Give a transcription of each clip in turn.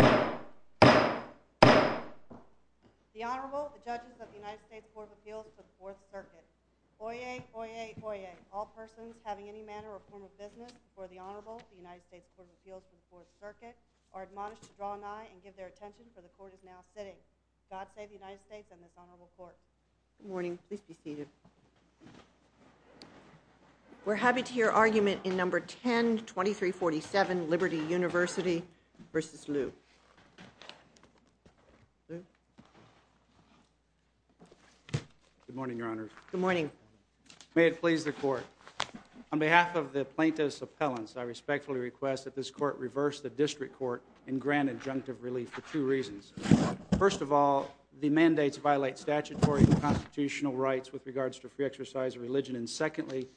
The Honorable, the Judges of the United States Court of Appeals for the Fourth Circuit. Oyez, oyez, oyez. All persons having any manner or form of business before the Honorable, the United States Court of Appeals for the Fourth Circuit, are admonished to draw an eye and give their attention, for the Court is now sitting. God save the United States and this Honorable Court. Good morning. Please be seated. We're happy to hear argument in No. 10-2347, Liberty University v. Lew. Good morning, Your Honors. Good morning. May it please the Court, on behalf of the plaintiff's appellants, I respectfully request that this Court reverse the District Court and grant adjunctive relief for two reasons. First of all, the mandates violate statutory and constitutional rights with regards to free exercise of religion, and secondly,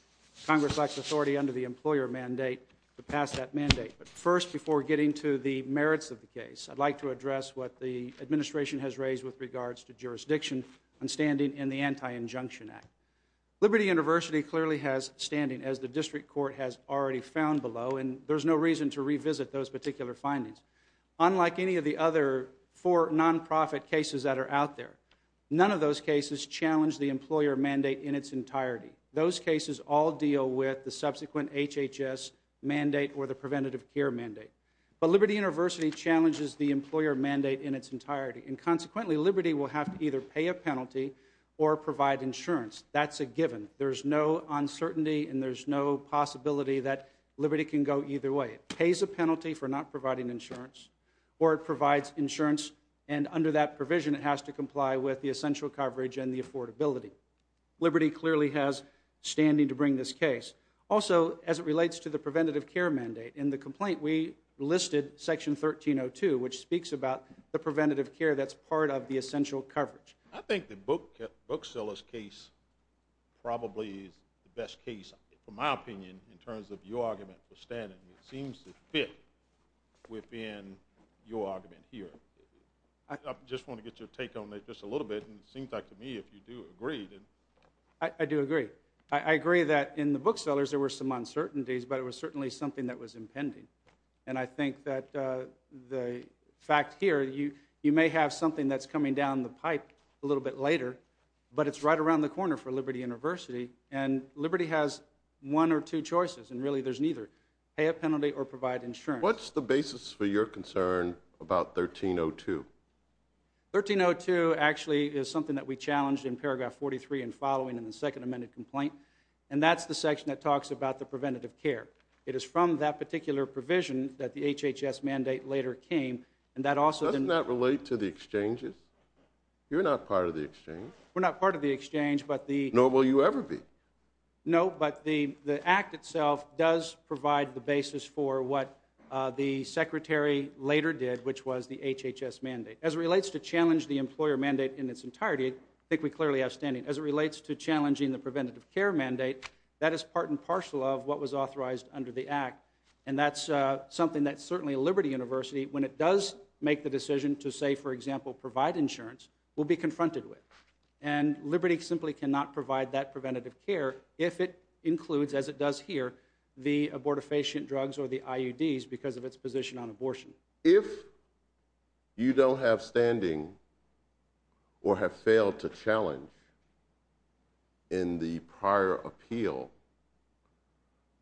Congress lacks authority under the employer mandate to pass that mandate. But first, before getting to the merits of the case, I'd like to address what the Administration has raised with regards to jurisdiction and standing in the Anti-Injunction Act. Liberty University clearly has standing, as the District Court has already found below, and there's no reason to revisit those particular findings. Unlike any of the other four non-profit cases that are out there, none of those cases challenge the employer mandate in its entirety. Those cases all deal with the subsequent HHS mandate or the preventative care mandate. But Liberty University challenges the employer mandate in its entirety, and consequently, Liberty will have to either pay a penalty or provide insurance. That's a given. There's no uncertainty and there's no possibility that Liberty can go either way. It pays a penalty for not providing insurance, or it provides insurance and under that provision it has to comply with the essential coverage and the affordability. Liberty clearly has standing to bring this case. Also, as it relates to the preventative care mandate, in the complaint we listed Section 1302, which speaks about the preventative care that's part of the essential coverage. I think that Bookseller's case probably is the best case, in my opinion, in terms of your argument for standing. It seems to fit within your argument here. I just want to get your take on it just a little bit, and it seems like to me if you do agree, then... I do agree. I agree that in the Bookseller's there were some uncertainties, but it was certainly something that was impending. And I think that the fact here, you may have something that's coming down the pipe a little bit later, but it's right around the corner for Liberty University, and Liberty has one or two choices, and really there's neither. Pay a penalty or provide insurance. What's the basis for your concern about 1302? 1302 actually is something that we challenged in paragraph 43 and following in the second amended complaint, and that's the section that talks about the preventative care. It is from that particular provision that the HHS mandate later came, and that also... Doesn't that relate to the exchanges? You're not part of the exchange. We're not part of the exchange, but the... Nor will you ever be. No, but the act itself does provide the basis for what the secretary later did, which was the HHS mandate. As it relates to challenge the employer mandate in its entirety, I think we clearly have standing. As it relates to challenging the preventative care mandate, that is part and parcel of what was authorized under the act, and that's something that certainly Liberty University, when it does make the decision to say, for example, provide insurance, will be confronted with. And Liberty simply cannot provide that preventative care if it includes, as it does here, the abortifacient drugs or the IUDs because of its position on abortion. If you don't have standing or have failed to challenge in the prior appeal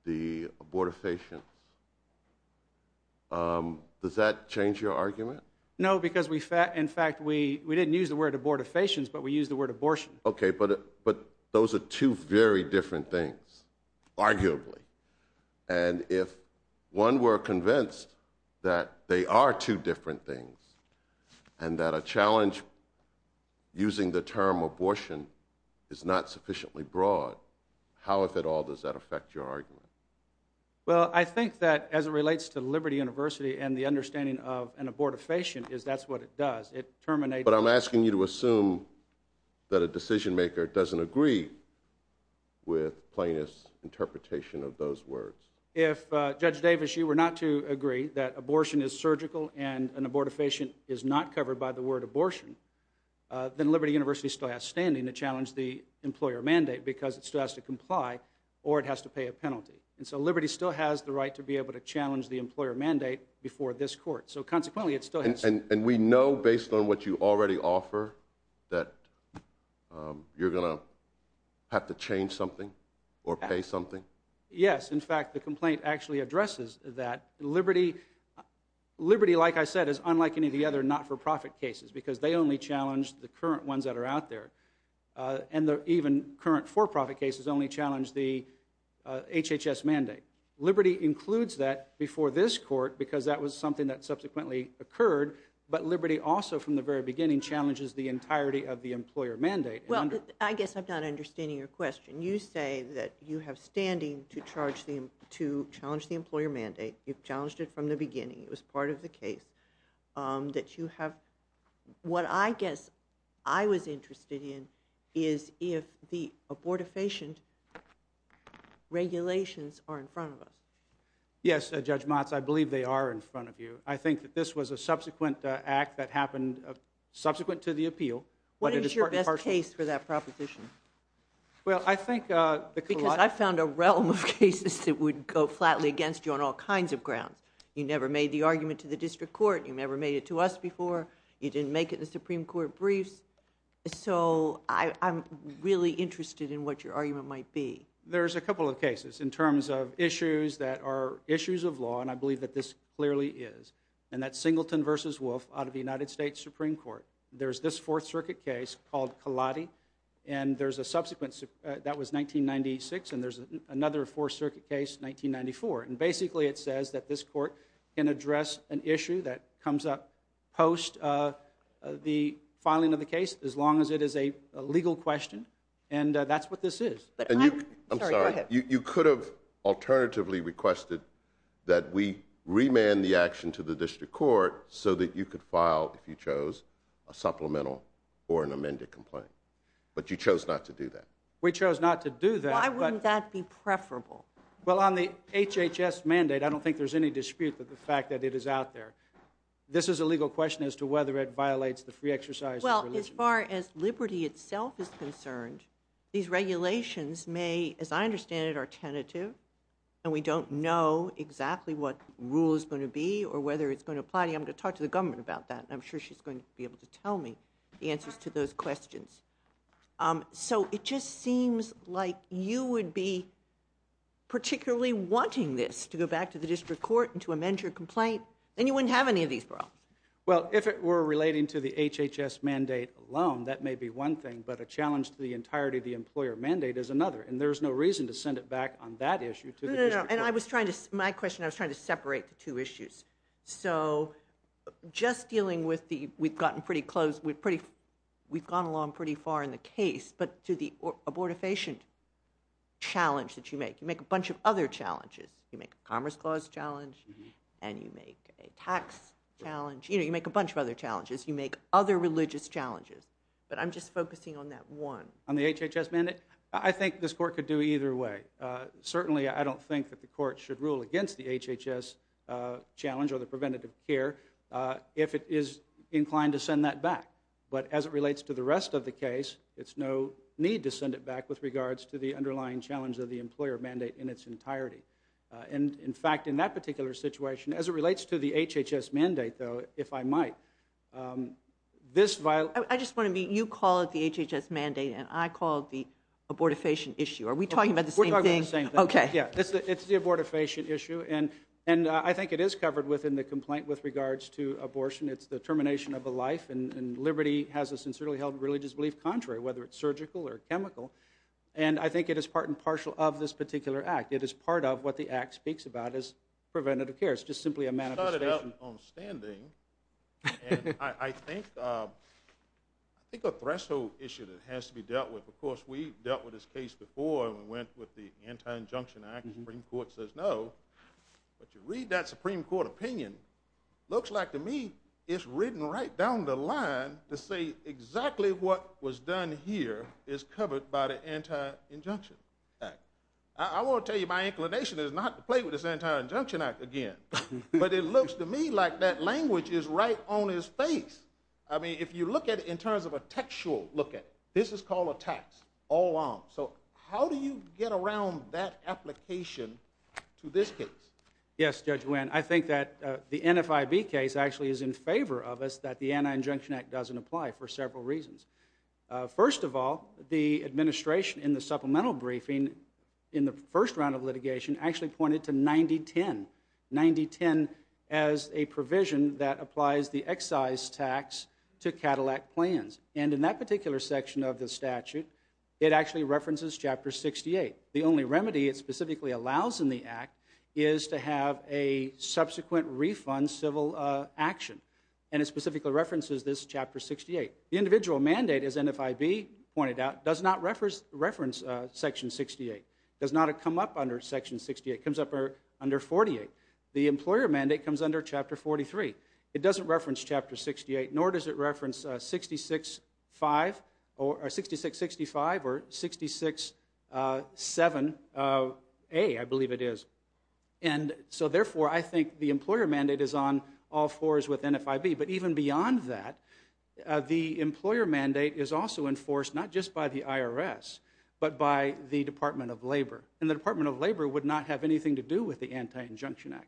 the abortifacients, does that change your argument? No, because we... In fact, we didn't use the word abortifacients, but we used the word abortion. Okay, but those are two very different things, arguably. And if one were convinced that they are two different things and that a challenge using the term abortion is not sufficiently broad, how, if at all, does that affect your argument? Well, I think that as it relates to Liberty University and the understanding of an abortifacient, is that's what it does. It terminates... But I'm asking you to assume that a decision maker doesn't agree with plaintiff's interpretation of those words. If Judge Davis, you were not to agree that abortion is surgical and an abortifacient is not covered by the word abortion, then Liberty University still has standing to challenge the employer mandate because it still has to comply or it has to pay a penalty. And so Liberty still has the right to be able to challenge the employer mandate before this court. So consequently, it still has... And we know based on what you already offer that you're going to have to change something or pay something? Yes. In fact, the complaint actually addresses that Liberty, like I said, is unlike any of the other not-for-profit cases because they only challenge the current ones that are out there. And even current for-profit cases only challenge the HHS mandate. Liberty includes that before this court because that was something that subsequently occurred, but Liberty also from the very beginning challenges the entirety of the employer mandate. Well, I guess I'm not understanding your question. You say that you have standing to challenge the employer mandate. You've challenged it from the beginning. It was part of the case that you have... What I guess I was interested in is if the abortifacient regulations are in front of us. Yes, Judge Motz, I believe they are in front of you. I think that this was a subsequent act that happened subsequent to the appeal. What is your best case for that proposition? Well, I think... Because I found a realm of cases that would go flatly against you on all kinds of grounds. You never made the argument to the district court. You never made it to us before. You didn't make it in the Supreme Court briefs. So I'm really interested in what your argument might be. There's a couple of cases in terms of issues that are issues of law, and I believe that this clearly is. And that's Singleton v. Wolf out of the United States Supreme Court. There's this Fourth Circuit case called Kaladi, and there's a subsequent... That was 1996, and there's another Fourth Circuit case, 1994. And basically it says that this court can address an issue that comes up post the filing of the case, as long as it is a legal question. And that's what this is. But I'm... I'm sorry. Go ahead. You could have alternatively requested that we remand the action to the district court so that you could file, if you chose, a supplemental or an amended complaint. But you chose not to do that. We chose not to do that, but... Why wouldn't that be preferable? Well, on the HHS mandate, I don't think there's any dispute with the fact that it is out there. This is a legal question as to whether it violates the free exercise of religion. Well, as far as liberty itself is concerned, these regulations may, as I understand it, are tentative, and we don't know exactly what rule is going to be or whether it's going to apply to you. I'm going to talk to the government about that, and I'm sure she's going to be able to tell me the answers to those questions. So, it just seems like you would be particularly wanting this to go back to the district court and to amend your complaint, and you wouldn't have any of these problems. Well, if it were relating to the HHS mandate alone, that may be one thing, but a challenge to the entirety of the employer mandate is another, and there's no reason to send it back on that issue to the district court. No, no, no. And I was trying to... My question, I was trying to separate the two issues. So, just dealing with the... We've gotten pretty close. We've gone along pretty far in the case, but to the abortifacient challenge that you make, you make a bunch of other challenges. You make a Commerce Clause challenge, and you make a tax challenge, you know, you make a bunch of other challenges. You make other religious challenges, but I'm just focusing on that one. On the HHS mandate? I think this court could do either way. Certainly, I don't think that the court should rule against the HHS challenge or the preventative care if it is inclined to send that back. But as it relates to the rest of the case, it's no need to send it back with regards to the underlying challenge of the employer mandate in its entirety. And in fact, in that particular situation, as it relates to the HHS mandate, though, if I might, this viol... I just want to be... You call it the HHS mandate, and I call it the abortifacient issue. Are we talking about the same thing? We're talking about the same thing. Okay. Yeah. It's the abortifacient issue, and I think it is covered within the complaint with regards to abortion. It's the termination of a life, and liberty has a sincerely held religious belief contrary, whether it's surgical or chemical. And I think it is part and partial of this particular act. It is part of what the act speaks about as preventative care. It's just simply a manifestation. You started out on standing, and I think a threshold issue that has to be dealt with, of course, we dealt with this case before, and we went with the Anti-Injunction Act. The Supreme Court says no, but you read that Supreme Court opinion, it looks like to me it's written right down the line to say exactly what was done here is covered by the Anti-Injunction Act. I want to tell you my inclination is not to play with this Anti-Injunction Act again, but it looks to me like that language is right on his face. I mean, if you look at it in terms of a textual look at it, this is called a tax all along. So how do you get around that application to this case? Yes, Judge Winn. I think that the NFIB case actually is in favor of us that the Anti-Injunction Act doesn't apply for several reasons. First of all, the administration in the supplemental briefing in the first round of litigation actually pointed to 9010, 9010 as a provision that applies the excise tax to Cadillac plans. And in that particular section of the statute, it actually references Chapter 68. The only remedy it specifically allows in the act is to have a subsequent refund civil action, and it specifically references this Chapter 68. The individual mandate, as NFIB pointed out, does not reference Section 68, does not come up under Section 68, comes up under 48. The employer mandate comes under Chapter 43. It doesn't reference Chapter 68, nor does it reference 6665 or 667A, I believe it is. And so therefore, I think the employer mandate is on all fours with NFIB. But even beyond that, the employer mandate is also enforced not just by the IRS, but by the Department of Labor. And the Department of Labor would not have anything to do with the Anti-Injunction Act.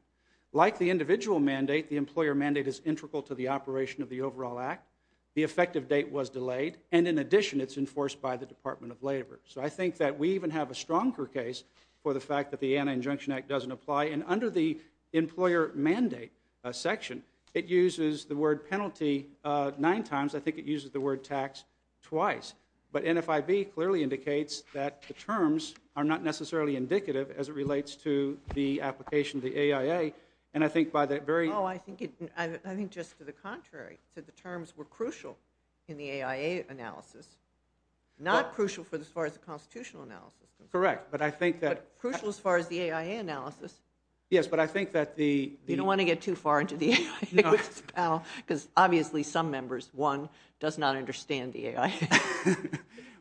Like the individual mandate, the employer mandate is integral to the operation of the overall act. The effective date was delayed, and in addition, it's enforced by the Department of Labor. So I think that we even have a stronger case for the fact that the Anti-Injunction Act doesn't apply. And under the employer mandate section, it uses the word penalty nine times. I think it uses the word tax twice. But NFIB clearly indicates that the terms are not necessarily indicative as it relates to the application of the AIA. And I think by that very... Oh, I think just to the contrary, that the terms were crucial in the AIA analysis. Not crucial for as far as the constitutional analysis. Correct. But I think that... But crucial as far as the AIA analysis. Yes, but I think that the... You don't want to get too far into the AIA, because obviously some members, one, does not understand the AIA.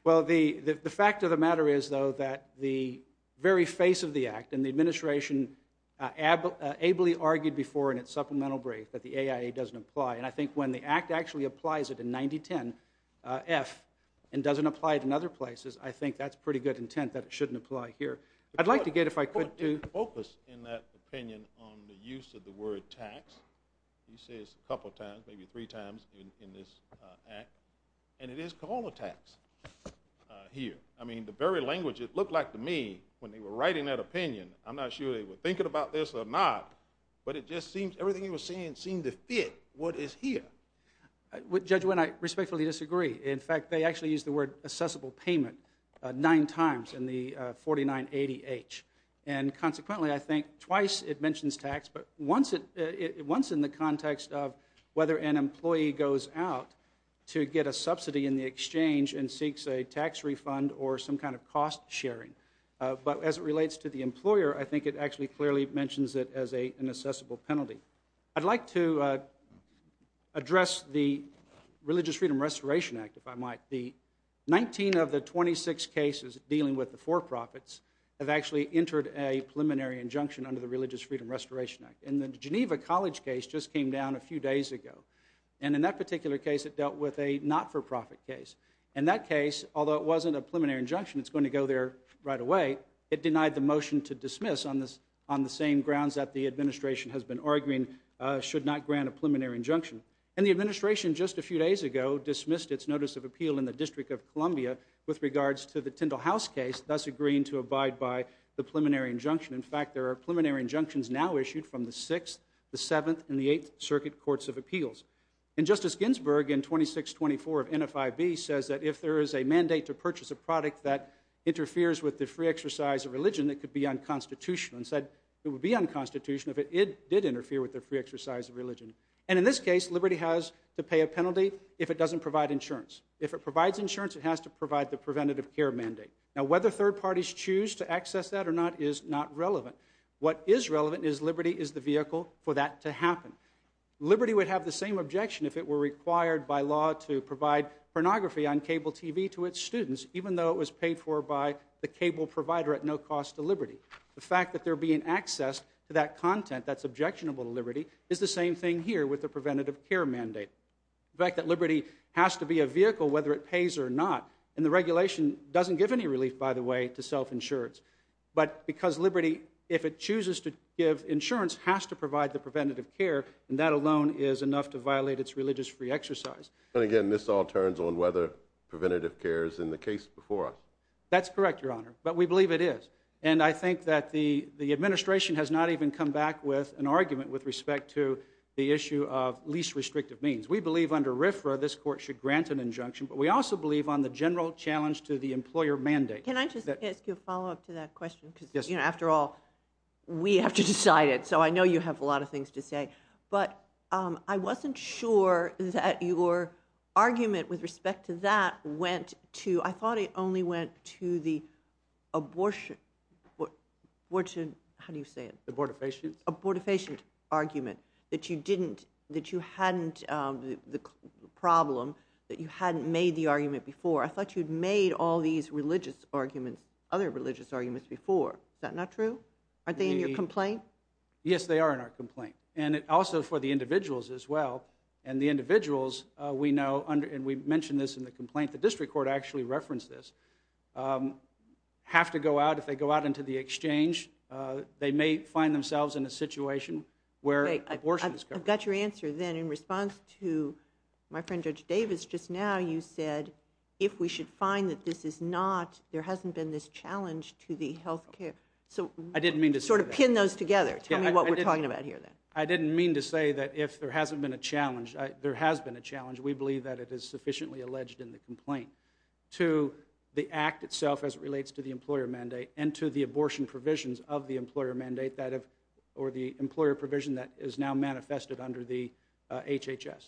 Well, the fact of the matter is, though, that the very face of the act, and the administration ably argued before in its supplemental brief that the AIA doesn't apply. And I think when the act actually applies it in 9010F and doesn't apply it in other places, I think that's pretty good intent that it shouldn't apply here. I'd like to get, if I could, to... But put an opus in that opinion on the use of the word tax. You say this a couple of times, maybe three times in this act, and it is called a tax here. I mean, the very language it looked like to me when they were writing that opinion, I'm not sure they were thinking about this or not, but it just seems everything he was saying seemed to fit what is here. Judge Wynne, I respectfully disagree. In fact, they actually used the word accessible payment nine times in the 4980H. And consequently, I think twice it mentions tax, but once in the context of whether an employee goes out to get a subsidy in the exchange and seeks a tax refund or some kind of cost sharing. But as it relates to the employer, I think it actually clearly mentions it as an accessible penalty. I'd like to address the Religious Freedom Restoration Act, if I might. The 19 of the 26 cases dealing with the for-profits have actually entered a preliminary injunction under the Religious Freedom Restoration Act. And the Geneva College case just came down a few days ago. And in that particular case, it dealt with a not-for-profit case. And that case, although it wasn't a preliminary injunction, it's going to go there right away, it denied the motion to dismiss on the same grounds that the administration has been arguing should not grant a preliminary injunction. And the administration just a few days ago dismissed its notice of appeal in the District of Columbia with regards to the Tyndall House case, thus agreeing to abide by the preliminary injunction. In fact, there are preliminary injunctions now issued from the Sixth, the Seventh, and the Eighth Circuit Courts of Appeals. And Justice Ginsburg in 2624 of NFIB says that if there is a mandate to purchase a product that interferes with the free exercise of religion, it could be unconstitutional. And said it would be unconstitutional if it did interfere with the free exercise of religion. And in this case, Liberty has to pay a penalty if it doesn't provide insurance. If it provides insurance, it has to provide the preventative care mandate. Now, whether third parties choose to access that or not is not relevant. What is relevant is Liberty is the vehicle for that to happen. Liberty would have the same objection if it were required by law to provide pornography on cable TV to its students, even though it was paid for by the cable provider at no cost to Liberty. The fact that they're being accessed to that content that's objectionable to Liberty is the same thing here with the preventative care mandate. The fact that Liberty has to be a vehicle whether it pays or not, and the regulation doesn't give any relief, by the way, to self-insurance. But because Liberty, if it chooses to give insurance, has to provide the preventative care, and that alone is enough to violate its religious free exercise. And again, this all turns on whether preventative care is in the case before us. That's correct, Your Honor. But we believe it is. And I think that the administration has not even come back with an argument with respect to the issue of least restrictive means. We believe under RFRA this court should grant an injunction, but we also believe on the general challenge to the employer mandate. Can I just ask you a follow-up to that question? Yes. Because, you know, after all, we have to decide it. So I know you have a lot of things to say. But I wasn't sure that your argument with respect to that went to—I thought it only went to the abortion—how do you say it? Abortifacient? Abortifacient argument, that you didn't—that you hadn't—the problem that you hadn't made the argument before. I thought you'd made all these religious arguments—other religious arguments before. Is that not true? Aren't they in your complaint? Yes, they are in our complaint. And also for the individuals as well. And the individuals, we know, and we mentioned this in the complaint, the district court actually referenced this, have to go out—if they go out into the exchange, they may find themselves in a situation where abortion is covered. I've got your answer then. In response to my friend Judge Davis just now, you said, if we should find that this is not—there hasn't been this challenge to the health care. So sort of pin those together. Tell me what we're talking about here then. I didn't mean to say that if there hasn't been a challenge, there has been a challenge. We believe that it is sufficiently alleged in the complaint to the act itself as it relates to the employer mandate and to the abortion provisions of the employer mandate or the employer provision that is now manifested under the HHS.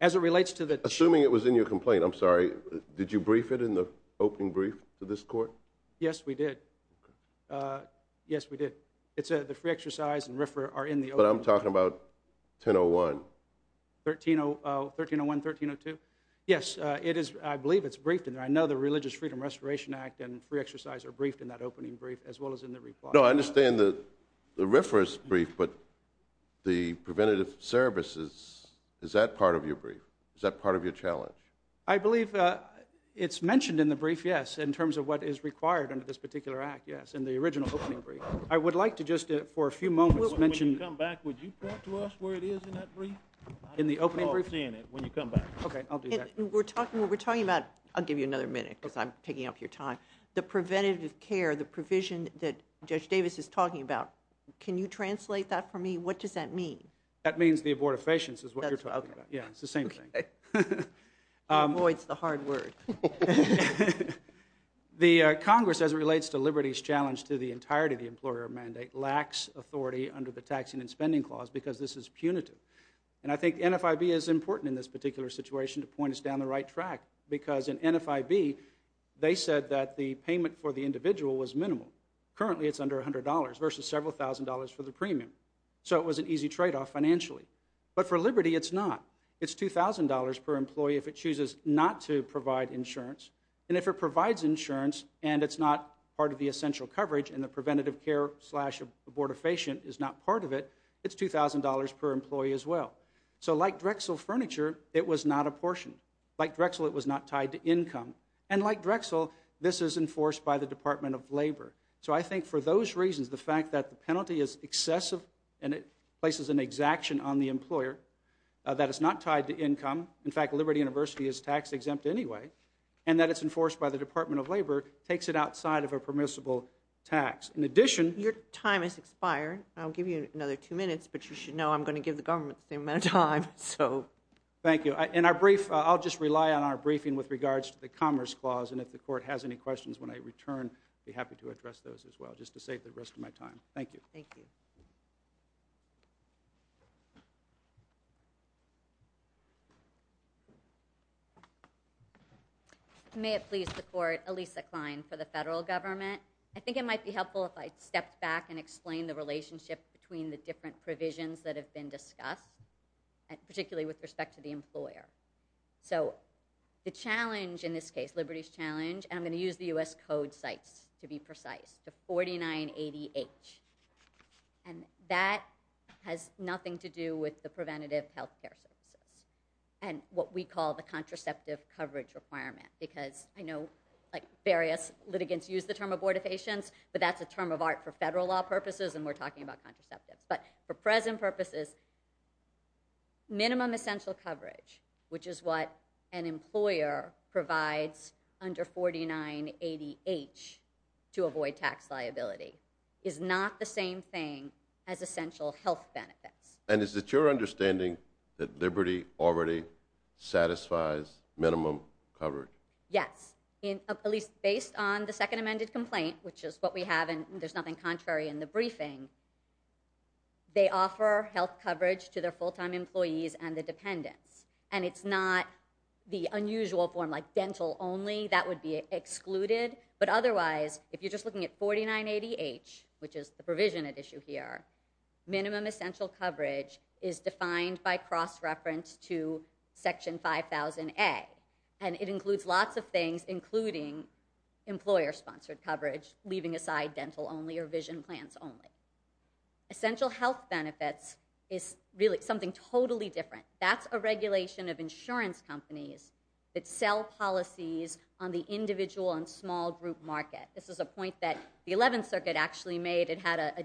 As it relates to the— Assuming it was in your complaint, I'm sorry, did you brief it in the opening brief to this court? Yes, we did. Okay. Yes, we did. It's a—the free exercise and RFRA are in the opening— But I'm talking about 1001. 1301, 1302? Yes. It is—I believe it's briefed in there. I know the Religious Freedom Restoration Act and free exercise are briefed in that opening brief as well as in the report. No, I understand the RFRA's brief, but the preventative services, is that part of your brief? Is that part of your challenge? I believe it's mentioned in the brief, yes, in terms of what is required under this particular act, yes, in the original opening brief. I would like to just for a few moments mention— When you come back, would you point to us where it is in that brief? In the opening brief? I don't understand it. When you come back. Okay, I'll do that. We're talking—what we're talking about—I'll give you another minute because I'm taking up your time. The preventative care, the provision that Judge Davis is talking about, can you translate that for me? What does that mean? That means the abortifacients is what you're talking about. Okay. Yeah, it's the same thing. Okay. Boy, it's the hard word. The Congress as it relates to Liberty's challenge to the entirety of the employer mandate lacks authority under the Taxing and Spending Clause because this is punitive. And I think NFIB is important in this particular situation to point us down the right track because in NFIB, they said that the payment for the individual was minimal. Currently it's under $100 versus several thousand dollars for the premium. So it was an easy trade-off financially. But for Liberty, it's not. It's $2,000 per employee if it chooses not to provide insurance, and if it provides insurance and it's not part of the essential coverage and the preventative care slash abortifacient is not part of it, it's $2,000 per employee as well. So like Drexel Furniture, it was not apportioned. Like Drexel, it was not tied to income. And like Drexel, this is enforced by the Department of Labor. So I think for those reasons, the fact that the penalty is excessive and it places an exaction on the employer, that it's not tied to income, in fact, Liberty University is tax-exempt anyway, and that it's enforced by the Department of Labor, takes it outside of a permissible tax. In addition... Your time has expired. I'll give you another two minutes, but you should know I'm going to give the government the same amount of time, so... Thank you. In our brief, I'll just rely on our briefing with regards to the Commerce Clause, and if the Court has any questions when I return, I'll be happy to address those as well, just to save the rest of my time. Thank you. Thank you. May it please the Court, Elisa Klein for the Federal Government. I think it might be helpful if I stepped back and explained the relationship between the different provisions that have been discussed, particularly with respect to the employer. So the challenge in this case, Liberty's challenge, and I'm going to use the U.S. Code cites to be precise, to 4980H. And that has nothing to do with the preventative health care services, and what we call the contraceptive coverage requirement, because I know various litigants use the term abortion, abortifacients, but that's a term of art for federal law purposes, and we're talking about contraceptives. But for present purposes, minimum essential coverage, which is what an employer provides under 4980H to avoid tax liability, is not the same thing as essential health benefits. And is it your understanding that Liberty already satisfies minimum coverage? Yes. At least based on the second amended complaint, which is what we have, and there's nothing contrary in the briefing, they offer health coverage to their full-time employees and the dependents. And it's not the unusual form like dental only, that would be excluded. But otherwise, if you're just looking at 4980H, which is the provision at issue here, minimum essential coverage is defined by cross-reference to Section 5000A. And it includes lots of things, including employer-sponsored coverage, leaving aside dental only or vision plans only. Essential health benefits is really something totally different. That's a regulation of insurance companies that sell policies on the individual and small group market. This is a point that the 11th Circuit actually made, it had a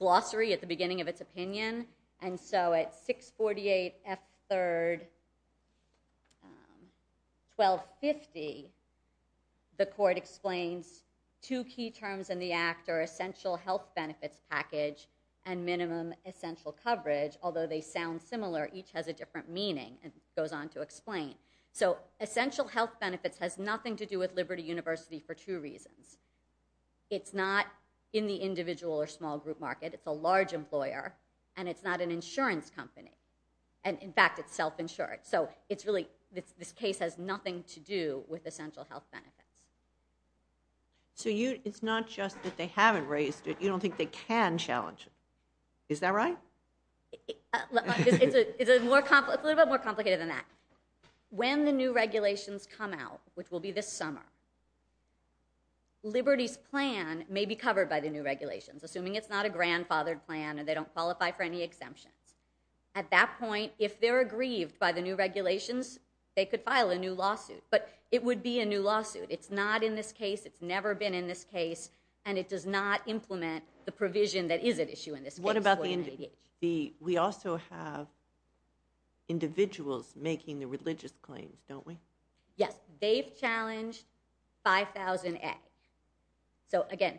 glossary at the beginning of 1250, the court explains two key terms in the act are essential health benefits package and minimum essential coverage, although they sound similar, each has a different meaning, and goes on to explain. So essential health benefits has nothing to do with Liberty University for two reasons. It's not in the individual or small group market, it's a large employer, and it's not an insurance company. And in fact, it's self-insured. So it's really, this case has nothing to do with essential health benefits. So you, it's not just that they haven't raised it, you don't think they can challenge it. Is that right? It's a little bit more complicated than that. When the new regulations come out, which will be this summer, Liberty's plan may be covered by the new regulations, assuming it's not a grandfathered plan and they don't qualify for any exemptions. At that point, if they're aggrieved by the new regulations, they could file a new lawsuit, but it would be a new lawsuit. It's not in this case, it's never been in this case, and it does not implement the provision that is at issue in this case. What about the, we also have individuals making the religious claims, don't we? Yes, they've challenged 5000A. So again,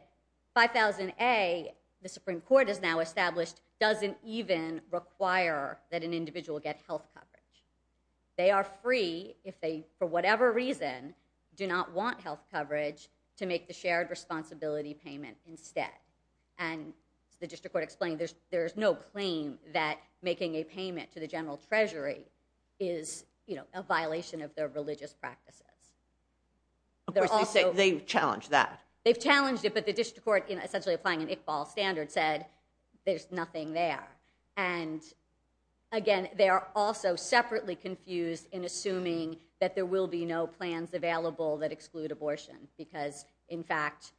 5000A, the Supreme Court has now established, doesn't even require that an individual get health coverage. They are free if they, for whatever reason, do not want health coverage to make the shared responsibility payment instead. And the district court explained there's no claim that making a payment to the general treasury is a violation of their religious practices. Of course, they've challenged that. They've challenged it, but the district court, essentially applying an Iqbal standard, said there's nothing there. And again, they are also separately confused in assuming that there will be no plans available that exclude abortion, because in fact,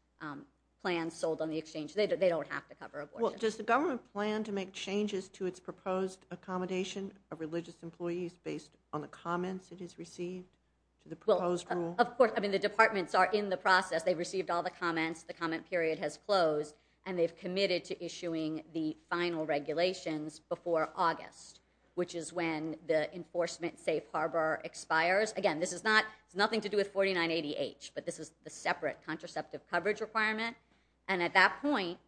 plans sold on the exchange, they don't have to cover abortion. Well, does the government plan to make changes to its proposed accommodation of religious comments it has received to the proposed rule? Of course. I mean, the departments are in the process. They've received all the comments, the comment period has closed, and they've committed to issuing the final regulations before August, which is when the enforcement safe harbor expires. Again, this is not, it's nothing to do with 4980H, but this is the separate contraceptive coverage requirement, and at that point,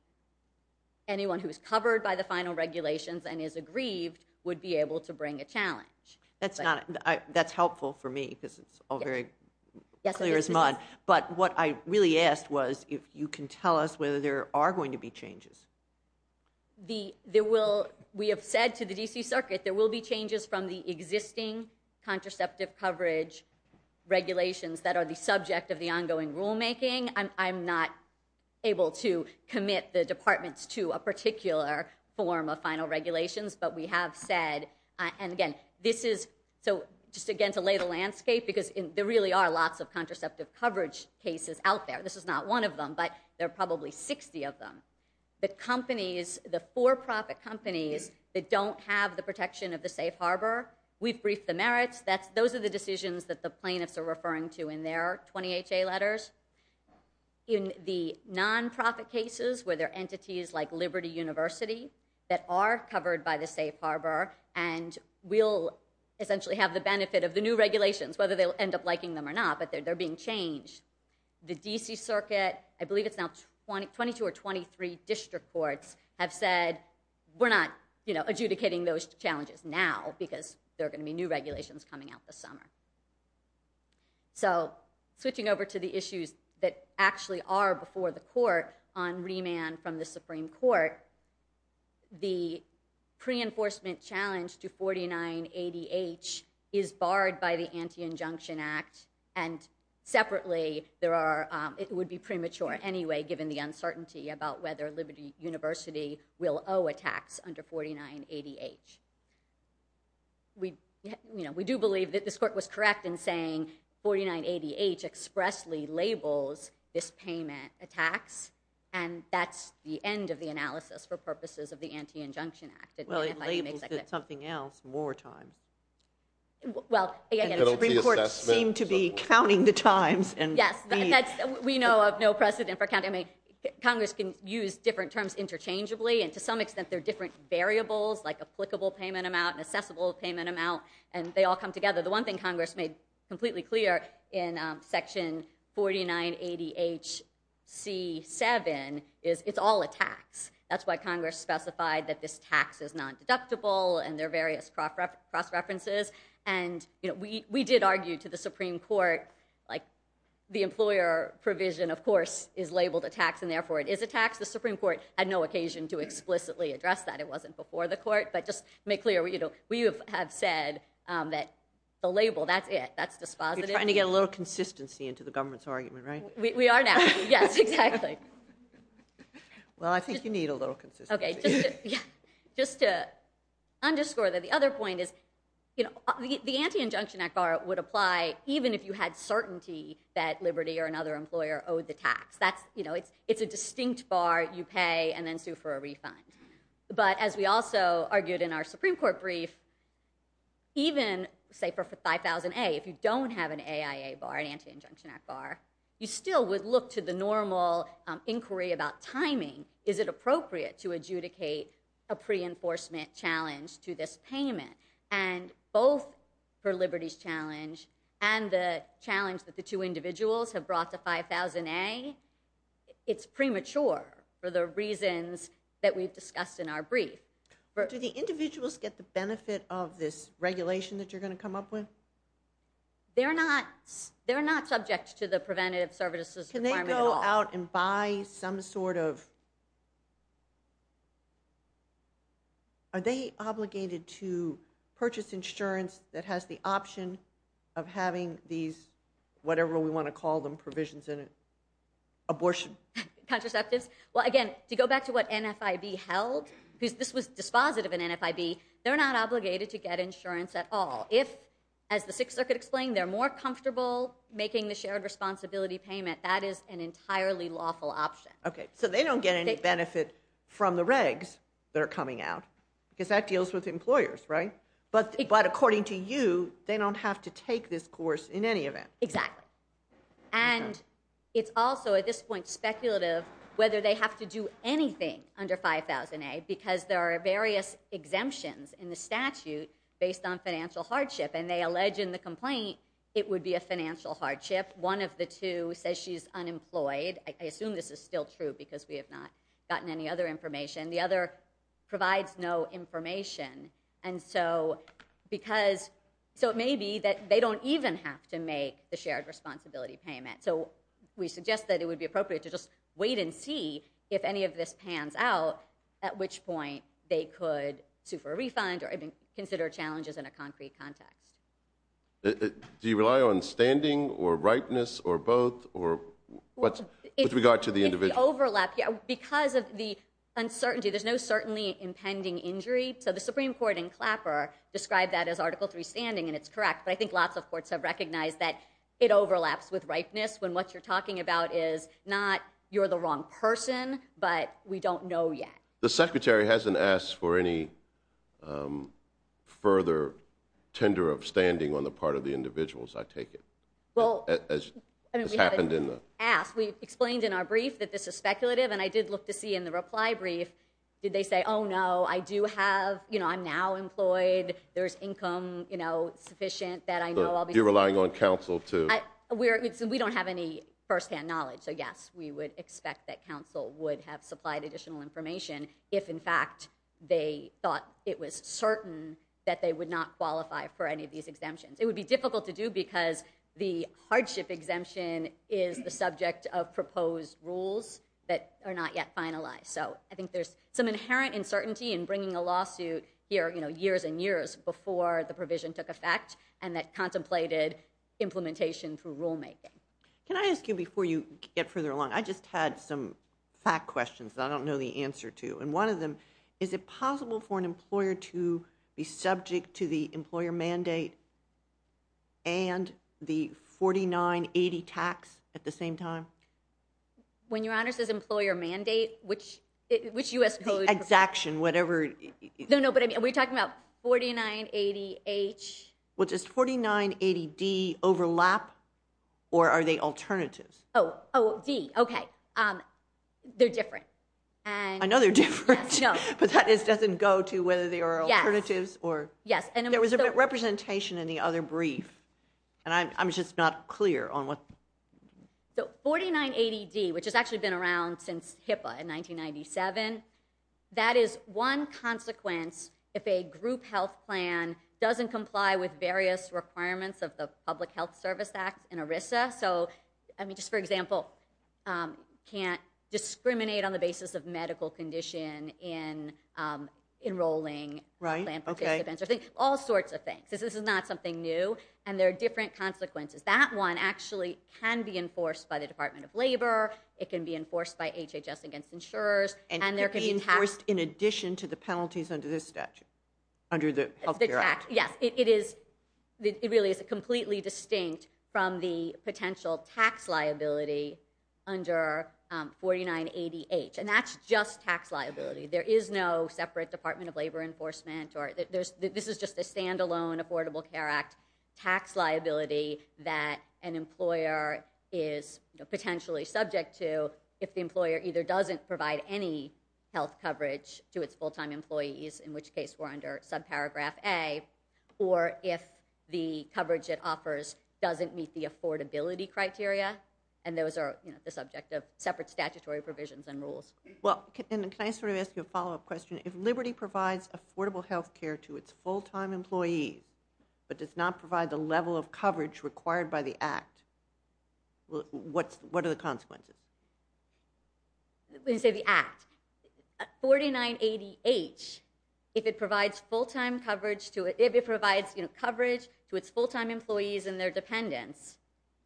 anyone who is covered by the final regulations and is aggrieved would be able to bring a challenge. That's helpful for me, because it's all very clear as mud, but what I really asked was if you can tell us whether there are going to be changes. We have said to the D.C. Circuit, there will be changes from the existing contraceptive coverage regulations that are the subject of the ongoing rulemaking. I'm not able to commit the departments to a particular form of final regulations, but we have said, and again, this is, so just again to lay the landscape, because there really are lots of contraceptive coverage cases out there. This is not one of them, but there are probably 60 of them. The companies, the for-profit companies that don't have the protection of the safe harbor, we've briefed the merits. Those are the decisions that the plaintiffs are referring to in their 20HA letters. In the non-profit cases where there are entities like Liberty University that are covered by the safe harbor and will essentially have the benefit of the new regulations, whether they'll end up liking them or not, but they're being changed. The D.C. Circuit, I believe it's now 22 or 23 district courts have said, we're not adjudicating those challenges now, because there are going to be new regulations coming out this summer. So switching over to the issues that actually are before the court on remand from the Supreme Court, the pre-enforcement challenge to 49ADH is barred by the Anti-Injunction Act, and separately there are, it would be premature anyway, given the uncertainty about whether Liberty University will owe a tax under 49ADH. We do believe that this court was correct in saying 49ADH expressly labels this payment a tax, and that's the end of the analysis for purposes of the Anti-Injunction Act. Well, it labels it something else more times. Well, again, the Supreme Court seemed to be counting the times. Yes, we know of no precedent for counting. Congress can use different terms interchangeably, and to some extent there are different variables like applicable payment amount and assessable payment amount, and they all come together. The one thing Congress made completely clear in section 49ADHC7 is it's all a tax. That's why Congress specified that this tax is non-deductible and there are various cross-references. We did argue to the Supreme Court, the employer provision, of course, is labeled a tax and therefore it is a tax. The Supreme Court had no occasion to explicitly address that. It wasn't before the court. But just to make clear, we have said that the label, that's it. That's dispositive. You're trying to get a little consistency into the government's argument, right? We are now. Yes, exactly. Well, I think you need a little consistency. Just to underscore that, the other point is the Anti-Injunction Act bar would apply even if you had certainty that Liberty or another employer owed the tax. It's a distinct bar. You pay and then sue for a refund. But as we also argued in our Supreme Court brief, even, say, for 5,000A, if you don't have an AIA bar, an Anti-Injunction Act bar, you still would look to the normal inquiry about timing. Is it appropriate to adjudicate a pre-enforcement challenge to this payment? And both for Liberty's challenge and the challenge that the two individuals have brought to 5,000A, it's premature for the reasons that we've discussed in our brief. Do the individuals get the benefit of this regulation that you're going to come up with? They're not subject to the preventative services requirement at all. Can they go out and buy some sort of... Are they obligated to purchase insurance that has the option of having these, whatever we Abortion. Contraceptives. Well, again, to go back to what NFIB held, because this was dispositive in NFIB, they're not obligated to get insurance at all. If, as the Sixth Circuit explained, they're more comfortable making the shared responsibility payment, that is an entirely lawful option. Okay, so they don't get any benefit from the regs that are coming out, because that deals with employers, right? But according to you, they don't have to take this course in any event. Exactly. And it's also, at this point, speculative whether they have to do anything under 5,000A, because there are various exemptions in the statute based on financial hardship. And they allege in the complaint, it would be a financial hardship. One of the two says she's unemployed. I assume this is still true, because we have not gotten any other information. The other provides no information. And so it may be that they don't even have to make the shared responsibility payment. So we suggest that it would be appropriate to just wait and see if any of this pans out, at which point they could sue for a refund, or even consider challenges in a concrete context. Do you rely on standing, or rightness, or both, with regard to the individual? Because of the uncertainty, there's no certainly impending injury. So the Supreme Court in Clapper described that as Article III standing, and it's correct. But I think lots of courts have recognized that it overlaps with rightness, when what you're talking about is not, you're the wrong person, but we don't know yet. The Secretary hasn't asked for any further tender of standing on the part of the individuals, I take it. Well, I mean, we haven't asked. We explained in our brief that this is speculative, and I did look to see in the reply brief, did they say, oh, no, I do have, you know, I'm now employed, there's income, you know, sufficient that I know I'll be... You're relying on counsel to... We don't have any firsthand knowledge, so yes, we would expect that counsel would have supplied additional information if, in fact, they thought it was certain that they would not qualify for any of these exemptions. It would be difficult to do because the hardship exemption is the subject of proposed rules that are not yet finalized. So, I think there's some inherent uncertainty in bringing a lawsuit here, you know, years and years before the provision took effect, and that contemplated implementation through rulemaking. Can I ask you, before you get further along, I just had some fact questions that I don't know the answer to, and one of them, is it possible for an employer to be subject to the employer mandate and the 4980 tax at the same time? When your honor says employer mandate, which U.S. code... The exaction, whatever... No, no, but I mean, we're talking about 4980H... Well, does 4980D overlap, or are they alternatives? Oh, oh, D, okay, they're different, and... I know they're different. Yes, no. But that doesn't go to whether they are alternatives or... Yes, yes, and I'm... There was a representation in the other brief, and I'm just not clear on what... The 4980D, which has actually been around since HIPAA in 1997, that is one consequence if a group health plan doesn't comply with various requirements of the Public Health Service Act and ERISA, so, I mean, just for example, can't discriminate on the basis of medical condition in enrolling... Right, okay. ...plan participants, all sorts of things, this is not something new, and there are different consequences. That one actually can be enforced by the Department of Labor, it can be enforced by HHS against insurers, and there can be... And it could be enforced in addition to the penalties under this statute, under the Health Care Act. Yes, it is... It really is completely distinct from the potential tax liability under 4980H, and that's just tax liability. There is no separate Department of Labor enforcement, or there's... There's no separate Affordable Care Act tax liability that an employer is potentially subject to if the employer either doesn't provide any health coverage to its full-time employees, in which case we're under subparagraph A, or if the coverage it offers doesn't meet the affordability criteria, and those are the subject of separate statutory provisions and rules. Well, and can I sort of ask you a follow-up question? If Liberty provides affordable health care to its full-time employees, but does not provide the level of coverage required by the Act, what are the consequences? When you say the Act, 4980H, if it provides full-time coverage to its full-time employees and their dependents,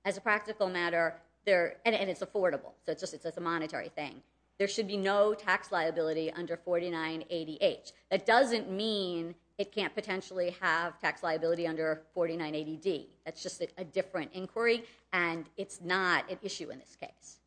as a practical matter, and it's affordable, so it's a monetary thing, there should be no tax liability under 4980H. That doesn't mean it can't potentially have tax liability under 4980D. That's just a different inquiry, and it's not an issue in this case.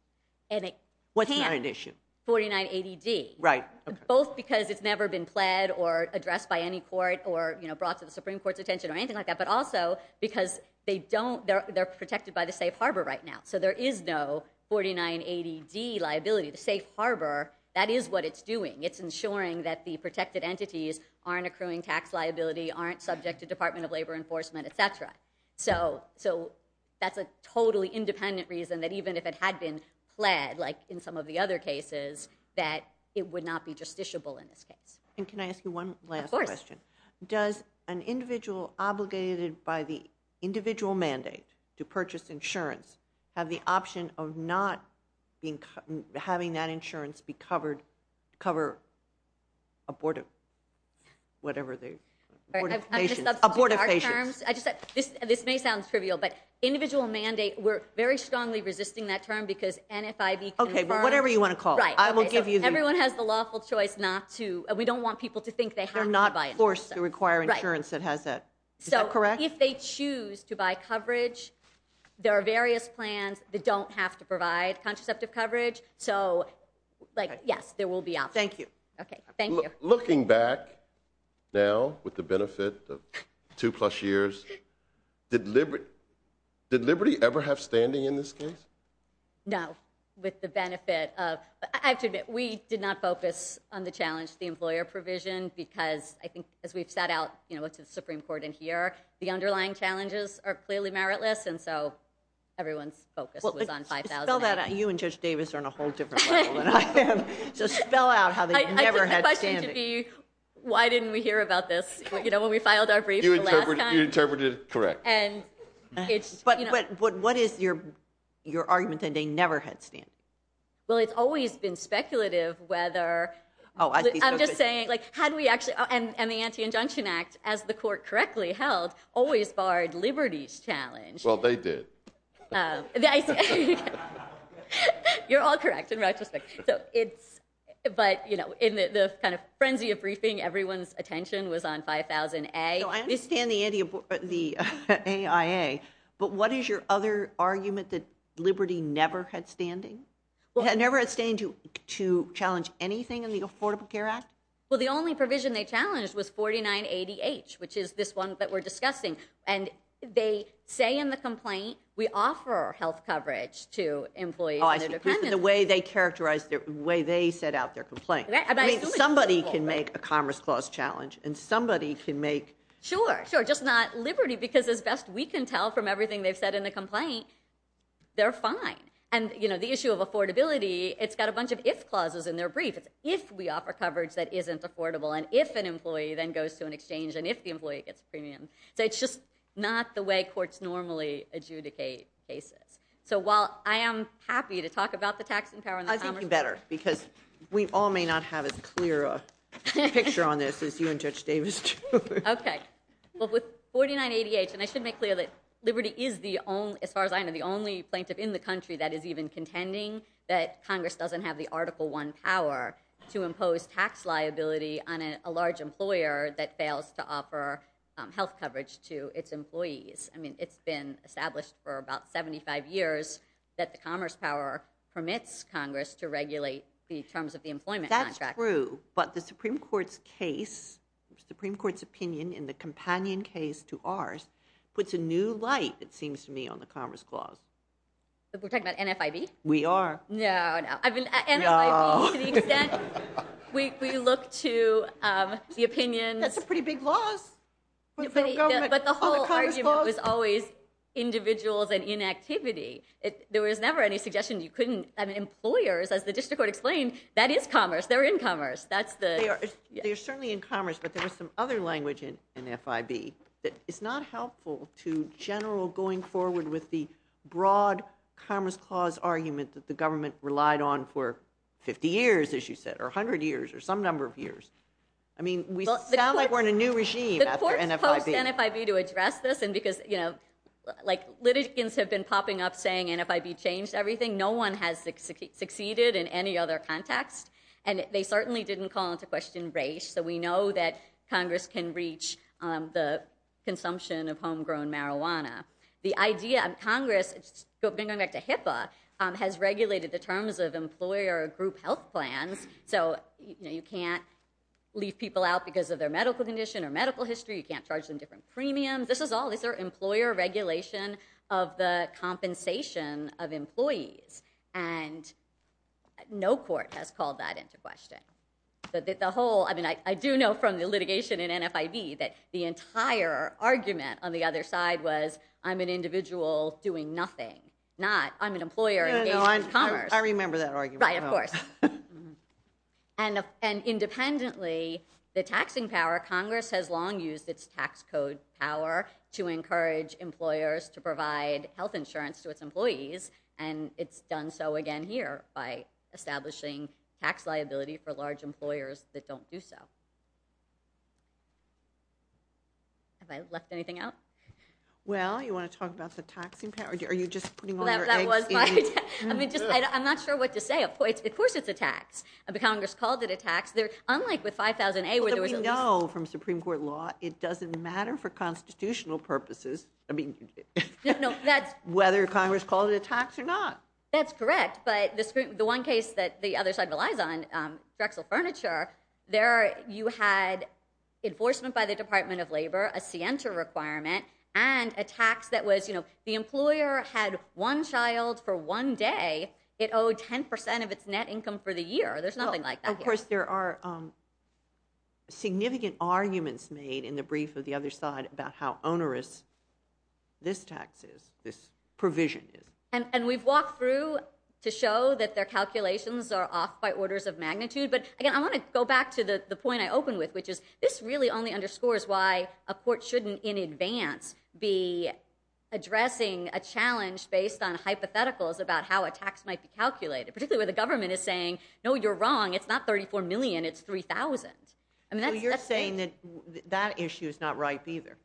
And it can... What's not an issue? 4980D. Right, okay. Both because it's never been pled or addressed by any court or brought to the Supreme Court's attention or anything like that, but also because they don't... They're protected by the safe harbor right now. So there is no 4980D liability. The safe harbor, that is what it's doing. It's ensuring that the protected entities aren't accruing tax liability, aren't subject to Department of Labor enforcement, et cetera. So that's a totally independent reason that even if it had been pled, like in some of the other cases, that it would not be justiciable in this case. And can I ask you one last question? Of course. Does an individual obligated by the individual mandate to purchase insurance have the option of not having that insurance be covered, cover abortive... Whatever they... I'm just substituting our terms. Abortive patients. I just... This may sound trivial, but individual mandate, we're very strongly resisting that term because NFIB confirms... Okay. Well, whatever you want to call it. Right. I will give you the... Everyone has the lawful choice not to... We don't want people to think they have to buy it. We don't want to force them. Right. To require insurance that has that. Is that correct? So if they choose to buy coverage, there are various plans that don't have to provide contraceptive coverage. So yes, there will be options. Thank you. Okay. Thank you. Looking back now with the benefit of two plus years, did Liberty ever have standing in this case? No. With the benefit of... I have to admit, we did not focus on the challenge, the employer provision, because I think as we've sat out with the Supreme Court in here, the underlying challenges are clearly meritless, and so everyone's focus was on 5,000... You and Judge Davis are on a whole different level than I am. So spell out how they never had standing. I think the question should be, why didn't we hear about this when we filed our brief the last time? You interpreted it correct. What is your argument that they never had standing? Well, it's always been speculative whether... I'm just saying, how do we actually... And the Anti-Injunction Act, as the court correctly held, always barred Liberty's challenge. Well, they did. You're all correct in retrospect. But in the frenzy of briefing, everyone's attention was on 5,000A. I understand the AIA, but what is your other argument that Liberty never had standing? Never had standing to challenge anything in the Affordable Care Act? Well, the only provision they challenged was 49ADH, which is this one that we're discussing. And they say in the complaint, we offer health coverage to employees and their dependents. The way they set out their complaint. Somebody can make a Commerce Clause challenge, and somebody can make... Sure, sure. Just not Liberty, because as best we can tell from everything they've said in the complaint, they're fine. And the issue of affordability, it's got a bunch of if clauses in their brief. It's if we offer coverage that isn't affordable, and if an employee then goes to an exchange, and if the employee gets a premium. So it's just not the way courts normally adjudicate cases. So while I am happy to talk about the tax and power in the Commerce Clause... I think you better, because we all may not have as clear a picture on this as you and Judge Davis do. Okay. Well, with 49ADH, and I should make clear that Liberty is the only, as far as I know, the only plaintiff in the country that is even contending that Congress doesn't have the Article I power to impose tax liability on a large employer that fails to offer health coverage to its employees. I mean, it's been established for about 75 years that the Commerce power permits Congress to regulate the terms of the employment contract. That's true, but the Supreme Court's case, Supreme Court's opinion in the companion case to ours, puts a new light, it seems to me, on the Commerce Clause. We're talking about NFIB? We are. No, no. I mean, NFIB, to the extent we look to the opinions... That's a pretty big loss. But the whole argument was always individuals and inactivity. There was never any suggestion you couldn't... I mean, employers, as the District Court explained, that is commerce. They're in commerce. That's the... They are certainly in commerce, but there was some other language in NFIB that is not helpful to general going forward with the broad Commerce Clause argument that the government relied on for 50 years, as you said, or 100 years, or some number of years. I mean, we sound like we're in a new regime after NFIB. The court posed NFIB to address this, and because litigants have been popping up saying NFIB changed everything. No one has succeeded in any other context. And they certainly didn't call into question race. So we know that Congress can reach the consumption of homegrown marijuana. The idea of Congress, going back to HIPAA, has regulated the terms of employer group health plans, so you can't leave people out because of their medical condition or medical history. You can't charge them different premiums. This is all... This is their employer regulation of the compensation of employees. And no court has called that into question. The whole... I mean, I do know from the litigation in NFIB that the entire argument on the other side was, I'm an individual doing nothing, not I'm an employer engaged in commerce. No, no. I remember that argument. Right. Of course. And independently, the taxing power, Congress has long used its tax code power to encourage employers to provide health insurance to its employees, and it's done so again here by establishing tax liability for large employers that don't do so. Have I left anything out? Well, you want to talk about the taxing power? Are you just putting all your eggs in... That was my... I mean, just... I'm not sure what to say. Of course it's a tax. The Congress called it a tax. Unlike with 5000A, where there was at least... I mean... No, no. That's... Whether Congress called it a tax or not. That's correct. But the one case that the other side relies on, Drexel Furniture, there you had enforcement by the Department of Labor, a Sienta requirement, and a tax that was, you know, the employer had one child for one day, it owed 10% of its net income for the year. There's nothing like that here. And, of course, there are significant arguments made in the brief of the other side about how onerous this tax is, this provision is. And we've walked through to show that their calculations are off by orders of magnitude, but again, I want to go back to the point I opened with, which is this really only underscores why a court shouldn't in advance be addressing a challenge based on hypotheticals about how a tax might be calculated, particularly where the government is saying, no, you're wrong, it's not $34 million, it's $3,000. I mean, that's... So you're saying that that issue is not ripe, either.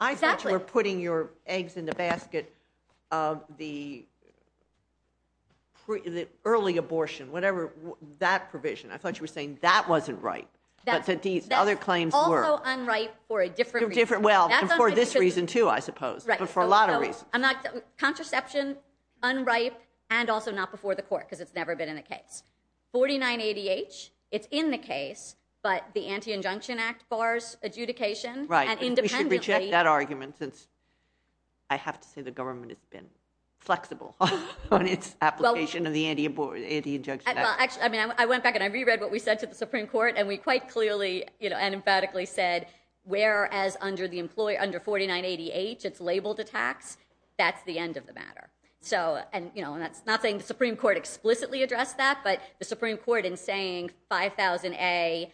Exactly. I thought you were putting your eggs in the basket of the early abortion, whatever, that provision. I thought you were saying that wasn't ripe, but that these other claims were. That's also unripe for a different reason. Well, for this reason, too, I suppose. Right. But for a lot of reasons. I'm not... Contraception, unripe, and also not before the court, because it's never been in a case. 4980H, it's in the case, but the Anti-Injunction Act bars adjudication. Right. And independently... We should reject that argument, since I have to say the government has been flexible on its application of the Anti-Injunction Act. Well, actually, I went back and I reread what we said to the Supreme Court, and we quite clearly, and emphatically said, whereas under 4980H, it's labeled a tax, that's the end of the matter. And that's not saying the Supreme Court explicitly addressed that, but the Supreme Court, in saying 5000A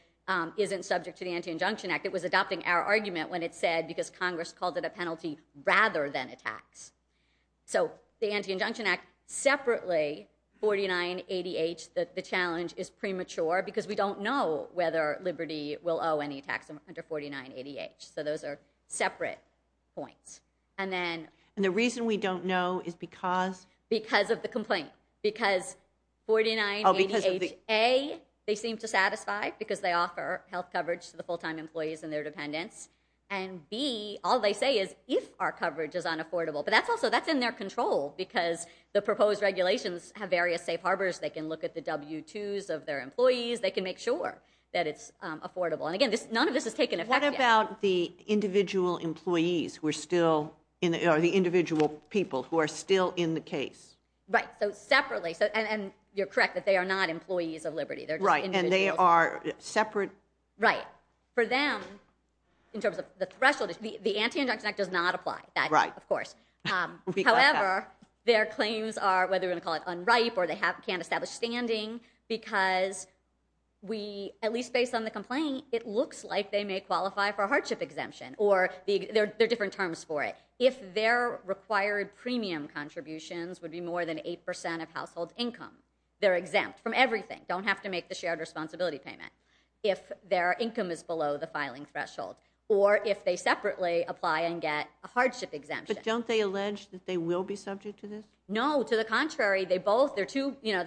isn't subject to the Anti-Injunction Act, it was adopting our argument when it said, because Congress called it a penalty, rather than a tax. So the Anti-Injunction Act, separately, 4980H, the challenge is premature, because we don't know whether Liberty will owe any tax under 4980H. So those are separate points. And the reason we don't know is because... Because of the complaint. Because 4980H, A, they seem to satisfy, because they offer health coverage to the full-time employees and their dependents, and B, all they say is, if our coverage is unaffordable. But that's also in their control, because the proposed regulations have various safe harbors, they can look at the W-2s of their employees, they can make sure that it's affordable. And again, none of this has taken effect yet. What about the individual employees who are still, or the individual people who are still in the case? Right, so separately, and you're correct that they are not employees of Liberty, they're just individuals. Right, and they are separate... Right. For them, in terms of the threshold, the Anti-Injunction Act does not apply, that, of course. However, their claims are, whether they're going to call it unripe, or they can't establish standing, because we, at least based on the complaint, it looks like they may qualify for a hardship exemption, or there are different terms for it. If their required premium contributions would be more than 8% of household income, they're exempt from everything, don't have to make the shared responsibility payment, if their income is below the filing threshold, or if they separately apply and get a hardship exemption. But don't they allege that they will be subject to this? No, to the contrary, they both, they're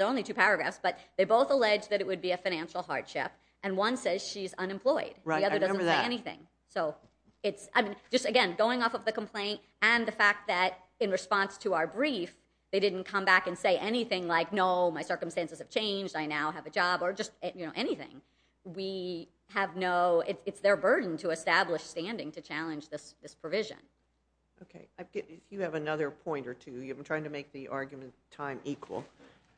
only two paragraphs, but they both allege that it would be a financial hardship, and one says she's unemployed. Right, I remember that. The other doesn't say anything. So, it's, just again, going off of the complaint, and the fact that in response to our brief, they didn't come back and say anything like, no, my circumstances have changed, I now have a job, or just anything. We have no, it's their burden to establish standing to challenge this provision. Okay, if you have another point or two, I'm trying to make the argument time equal,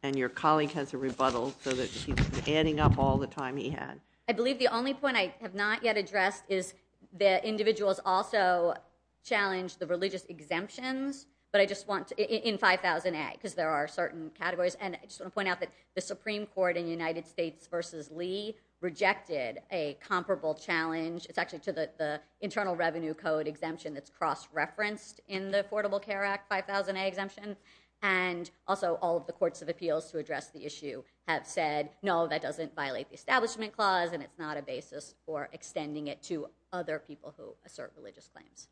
and your colleague has a rebuttal, so that he's adding up all the time he had. I believe the only point I have not yet addressed is that individuals also challenge the religious exemptions, but I just want, in 5000A, because there are certain categories, and I just want to point out that the Supreme Court in the United States versus Lee rejected a comparable challenge, it's actually to the Internal Revenue Code exemption that's cross-referenced in the Affordable Care Act, 5000A exemption, and also all of the courts of appeals to address the issue have said, no, that doesn't violate the Establishment Clause, and it's not a basis for extending it to other people who assert religious claims.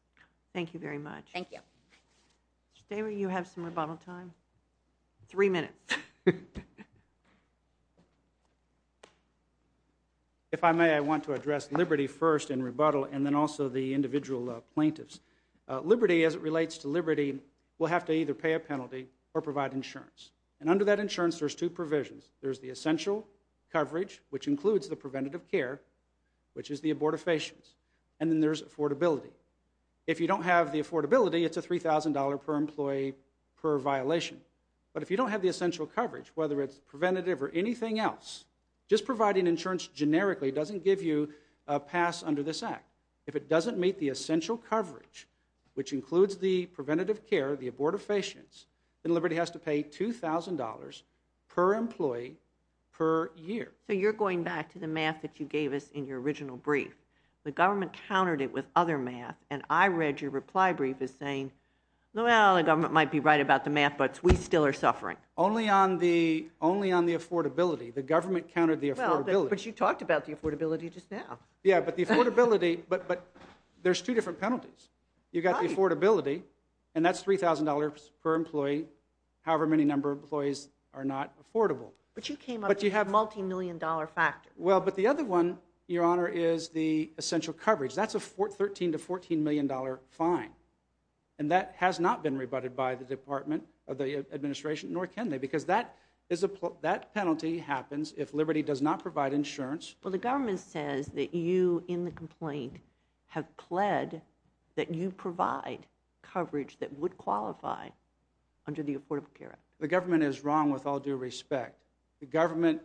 Thank you very much. Thank you. Stay where you have some rebuttal time. Three minutes. If I may, I want to address liberty first in rebuttal, and then also the individual plaintiffs. Liberty, as it relates to liberty, will have to either pay a penalty or provide insurance, and under that insurance, there's two provisions. There's the essential coverage, which includes the preventative care, which is the abortifacients, and then there's affordability. If you don't have the affordability, it's a $3,000 per employee per violation, but if you don't have the essential coverage, whether it's preventative or anything else, just providing insurance generically doesn't give you a pass under this Act. If it doesn't meet the essential coverage, which includes the preventative care, the abortifacients, then liberty has to pay $2,000 per employee per year. So you're going back to the math that you gave us in your original brief. The government countered it with other math, and I read your reply brief as saying, well, the Maryland government might be right about the math, but we still are suffering. Only on the affordability. The government countered the affordability. But you talked about the affordability just now. Yeah, but the affordability, but there's two different penalties. You've got the affordability, and that's $3,000 per employee, however many number of employees are not affordable. But you came up with a multi-million dollar factor. Well, but the other one, Your Honor, is the essential coverage. That's a $13 to $14 million fine. And that has not been rebutted by the Department of the Administration, nor can they, because that penalty happens if liberty does not provide insurance. Well, the government says that you, in the complaint, have pled that you provide coverage that would qualify under the Affordable Care Act. The government is wrong with all due respect. The government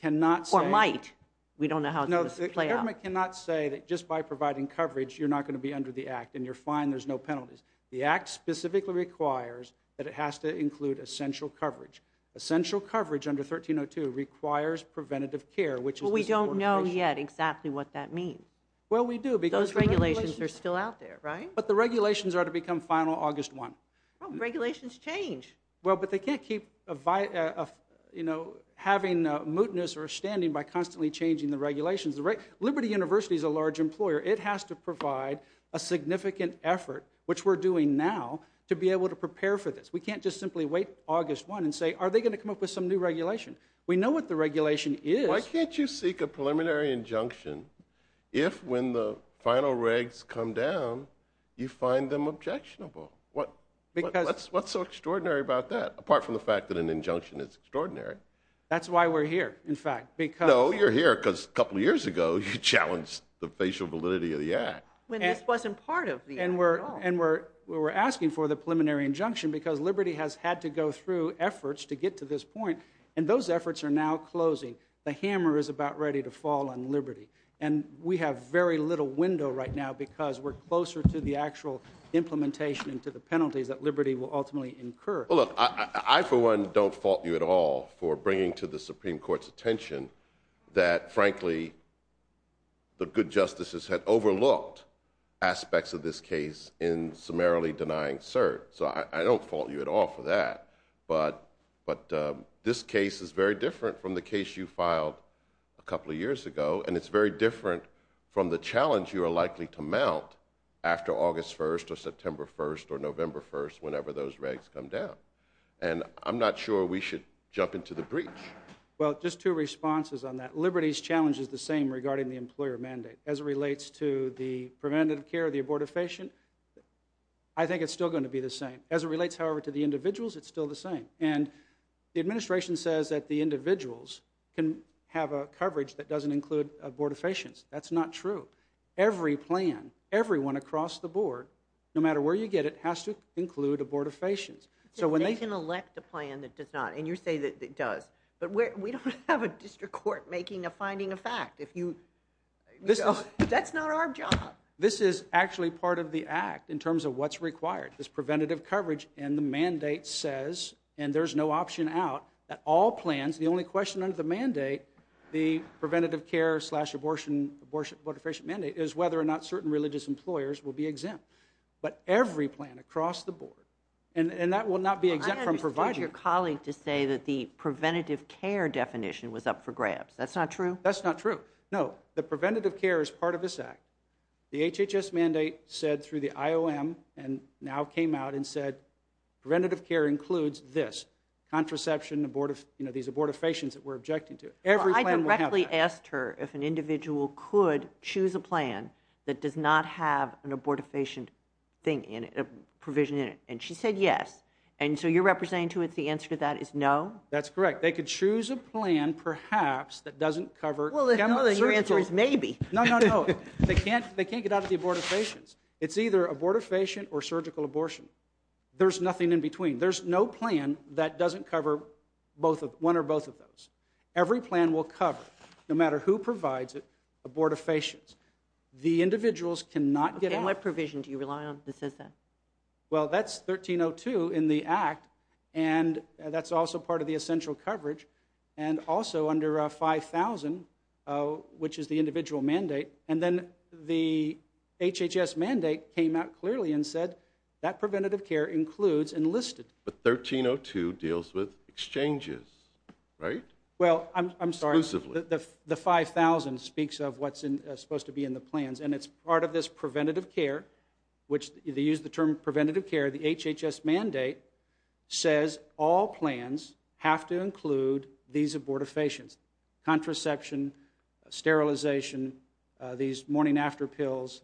cannot say... Or might. We don't know how this is going to play out. The government cannot say that just by providing coverage, you're not going to be under the act, and you're fine, there's no penalties. The act specifically requires that it has to include essential coverage. Essential coverage under 1302 requires preventative care, which is... Well, we don't know yet exactly what that means. Well, we do, because... Those regulations are still out there, right? But the regulations are to become final August 1. Well, regulations change. Well, but they can't keep having a mootness or a standing by constantly changing the regulations. Liberty University is a large employer. It has to provide a significant effort, which we're doing now, to be able to prepare for this. We can't just simply wait August 1 and say, are they going to come up with some new regulation? We know what the regulation is. Why can't you seek a preliminary injunction if, when the final regs come down, you find them objectionable? Because... What's so extraordinary about that, apart from the fact that an injunction is extraordinary? That's why we're here, in fact, because... No, you're here because a couple years ago you challenged the facial validity of the act. When this wasn't part of the act at all. And we're asking for the preliminary injunction because Liberty has had to go through efforts to get to this point, and those efforts are now closing. The hammer is about ready to fall on Liberty. And we have very little window right now because we're closer to the actual implementation and to the penalties that Liberty will ultimately incur. Well, look, I for one don't fault you at all for bringing to the Supreme Court's attention that, frankly, the good justices had overlooked aspects of this case in summarily denying cert. So I don't fault you at all for that. But this case is very different from the case you filed a couple of years ago, and it's very different from the challenge you are likely to mount after August 1 or September 1 or November 1, whenever those regs come down. And I'm not sure we should jump into the breach. Well, just two responses on that. Liberty's challenge is the same regarding the employer mandate. As it relates to the preventative care of the abortifacient, I think it's still going to be the same. As it relates, however, to the individuals, it's still the same. And the administration says that the individuals can have a coverage that doesn't include abortifacients. That's not true. Every plan, everyone across the board, no matter where you get it, has to include abortifacients. They can elect a plan that does not. And you say that it does. But we don't have a district court making a finding of fact. That's not our job. This is actually part of the act in terms of what's required, is preventative coverage. And the mandate says, and there's no option out, that all plans, the only question under the mandate, the preventative care slash abortifacient mandate is whether or not certain religious employers will be exempt. But every plan across the board, and that will not be exempt from providing. I understood your colleague to say that the preventative care definition was up for grabs. That's not true? That's not true. No, the preventative care is part of this act. The HHS mandate said through the IOM and now came out and said preventative care includes this, contraception, these abortifacients that we're objecting to. Every plan will have that. I directly asked her if an individual could choose a plan that does not have an abortifacient thing in it, a provision in it. And she said yes. And so you're representing to us the answer to that is no? That's correct. They could choose a plan, perhaps, that doesn't cover. Well, then your answer is maybe. No, no, no. They can't get out of the abortifacients. It's either abortifacient or surgical abortion. There's nothing in between. There's no plan that doesn't cover one or both of those. Every plan will cover, no matter who provides it, abortifacients. The individuals cannot get out. And what provision do you rely on that says that? Well, that's 1302 in the act, and that's also part of the essential coverage, and also under 5000, which is the individual mandate. And then the HHS mandate came out clearly and said that preventative care includes enlisted. But 1302 deals with exchanges, right? Well, I'm sorry. Exclusively. The 5000 speaks of what's supposed to be in the plans, and it's part of this preventative care, which they use the term preventative care. The HHS mandate says all plans have to include these abortifacients, contraception, sterilization, these morning-after pills,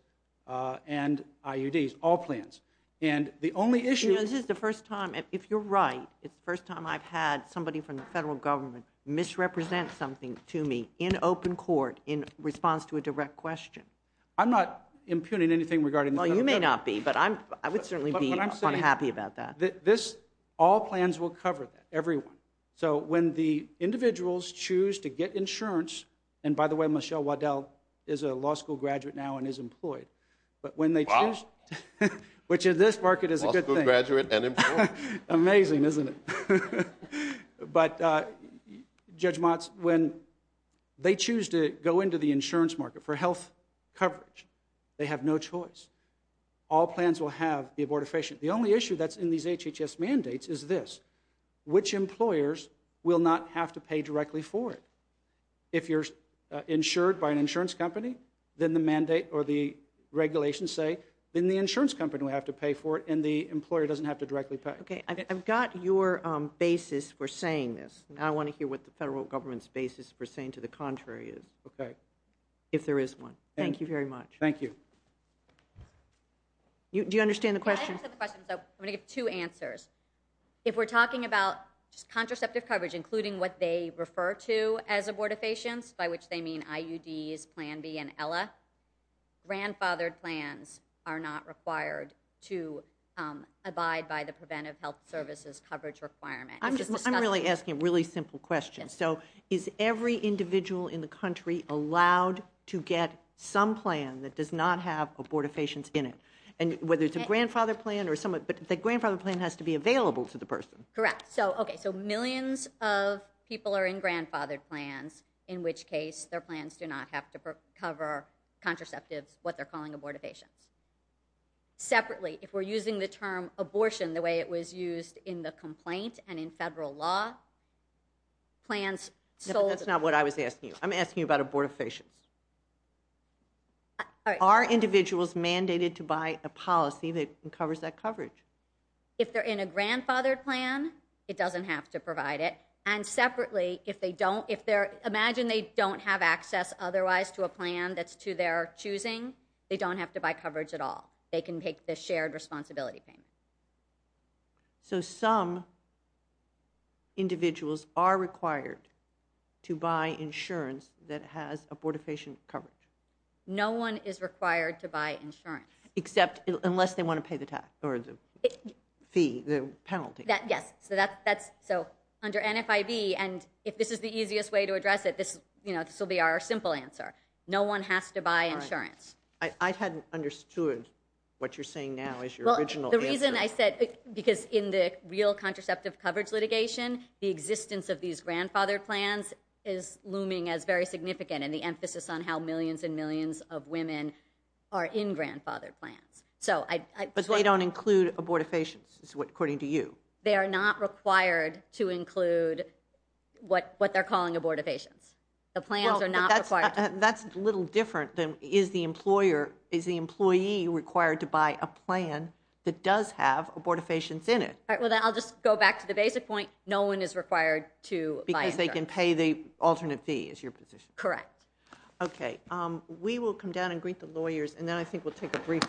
and IUDs, all plans. And the only issue— You know, this is the first time, if you're right, it's the first time I've had somebody from the federal government misrepresent something to me in open court in response to a direct question. I'm not impugning anything regarding— Well, you may not be, but I would certainly be— But I'm saying— Unhappy about that. This—all plans will cover that, everyone. So when the individuals choose to get insurance—and by the way, Michelle Waddell is a law school graduate now and is employed. But when they choose— Wow. Which in this market is a good thing. Law school graduate and employed? Amazing, isn't it? But, Judge Motz, when they choose to go into the insurance market for health coverage, they have no choice. All plans will have the abortifacient. The only issue that's in these HHS mandates is this. Which employers will not have to pay directly for it? If you're insured by an insurance company, then the mandate or the regulations say, then the insurance company will have to pay for it and the employer doesn't have to directly pay. Okay. I've got your basis for saying this. Now I want to hear what the federal government's basis for saying to the contrary is. Okay. If there is one. Thank you very much. Thank you. Do you understand the question? Yeah, I understand the question, so I'm going to give two answers. If we're talking about contraceptive coverage, including what they refer to as abortifacients, by which they mean IUDs, Plan B, and Ella, grandfathered plans are not required to abide by the Preventive Health Services coverage requirement. I'm really asking a really simple question. Yes. So is every individual in the country allowed to get some plan that does not have abortifacients in it? And whether it's a grandfathered plan or some other, but the grandfathered plan has to be available to the person. Correct. So, okay, so millions of people are in grandfathered plans, in which case their plans do not have to cover contraceptives, what they're calling abortifacients. Separately, if we're using the term abortion the way it was used in the complaint and in federal law, plans sold. That's not what I was asking you. I'm asking you about abortifacients. All right. Are individuals mandated to buy a policy that covers that coverage? If they're in a grandfathered plan, it doesn't have to provide it. And separately, if they don't, if they're, imagine they don't have access otherwise to a plan that's to their choosing, they don't have to buy coverage at all. They can take the shared responsibility payment. So some individuals are required to buy insurance that has abortifacient coverage. No one is required to buy insurance. Except, unless they want to pay the tax, or the fee, the penalty. Yes. So under NFIB, and if this is the easiest way to address it, this will be our simple answer. No one has to buy insurance. I hadn't understood what you're saying now as your original answer. The reason I said, because in the real contraceptive coverage litigation, the existence of these grandfathered plans is looming as very significant, and the emphasis on how millions and millions of women are in grandfathered plans. But they don't include abortifacients, according to you? They are not required to include what they're calling abortifacients. The plans are not required. That's a little different than, is the employer, is the employee required to buy a plan that does have abortifacients in it? I'll just go back to the basic point. No one is required to buy insurance. Because they can pay the alternate fee, is your position? Correct. Okay, we will come down and greet the lawyers, and then I think we'll take a brief recess.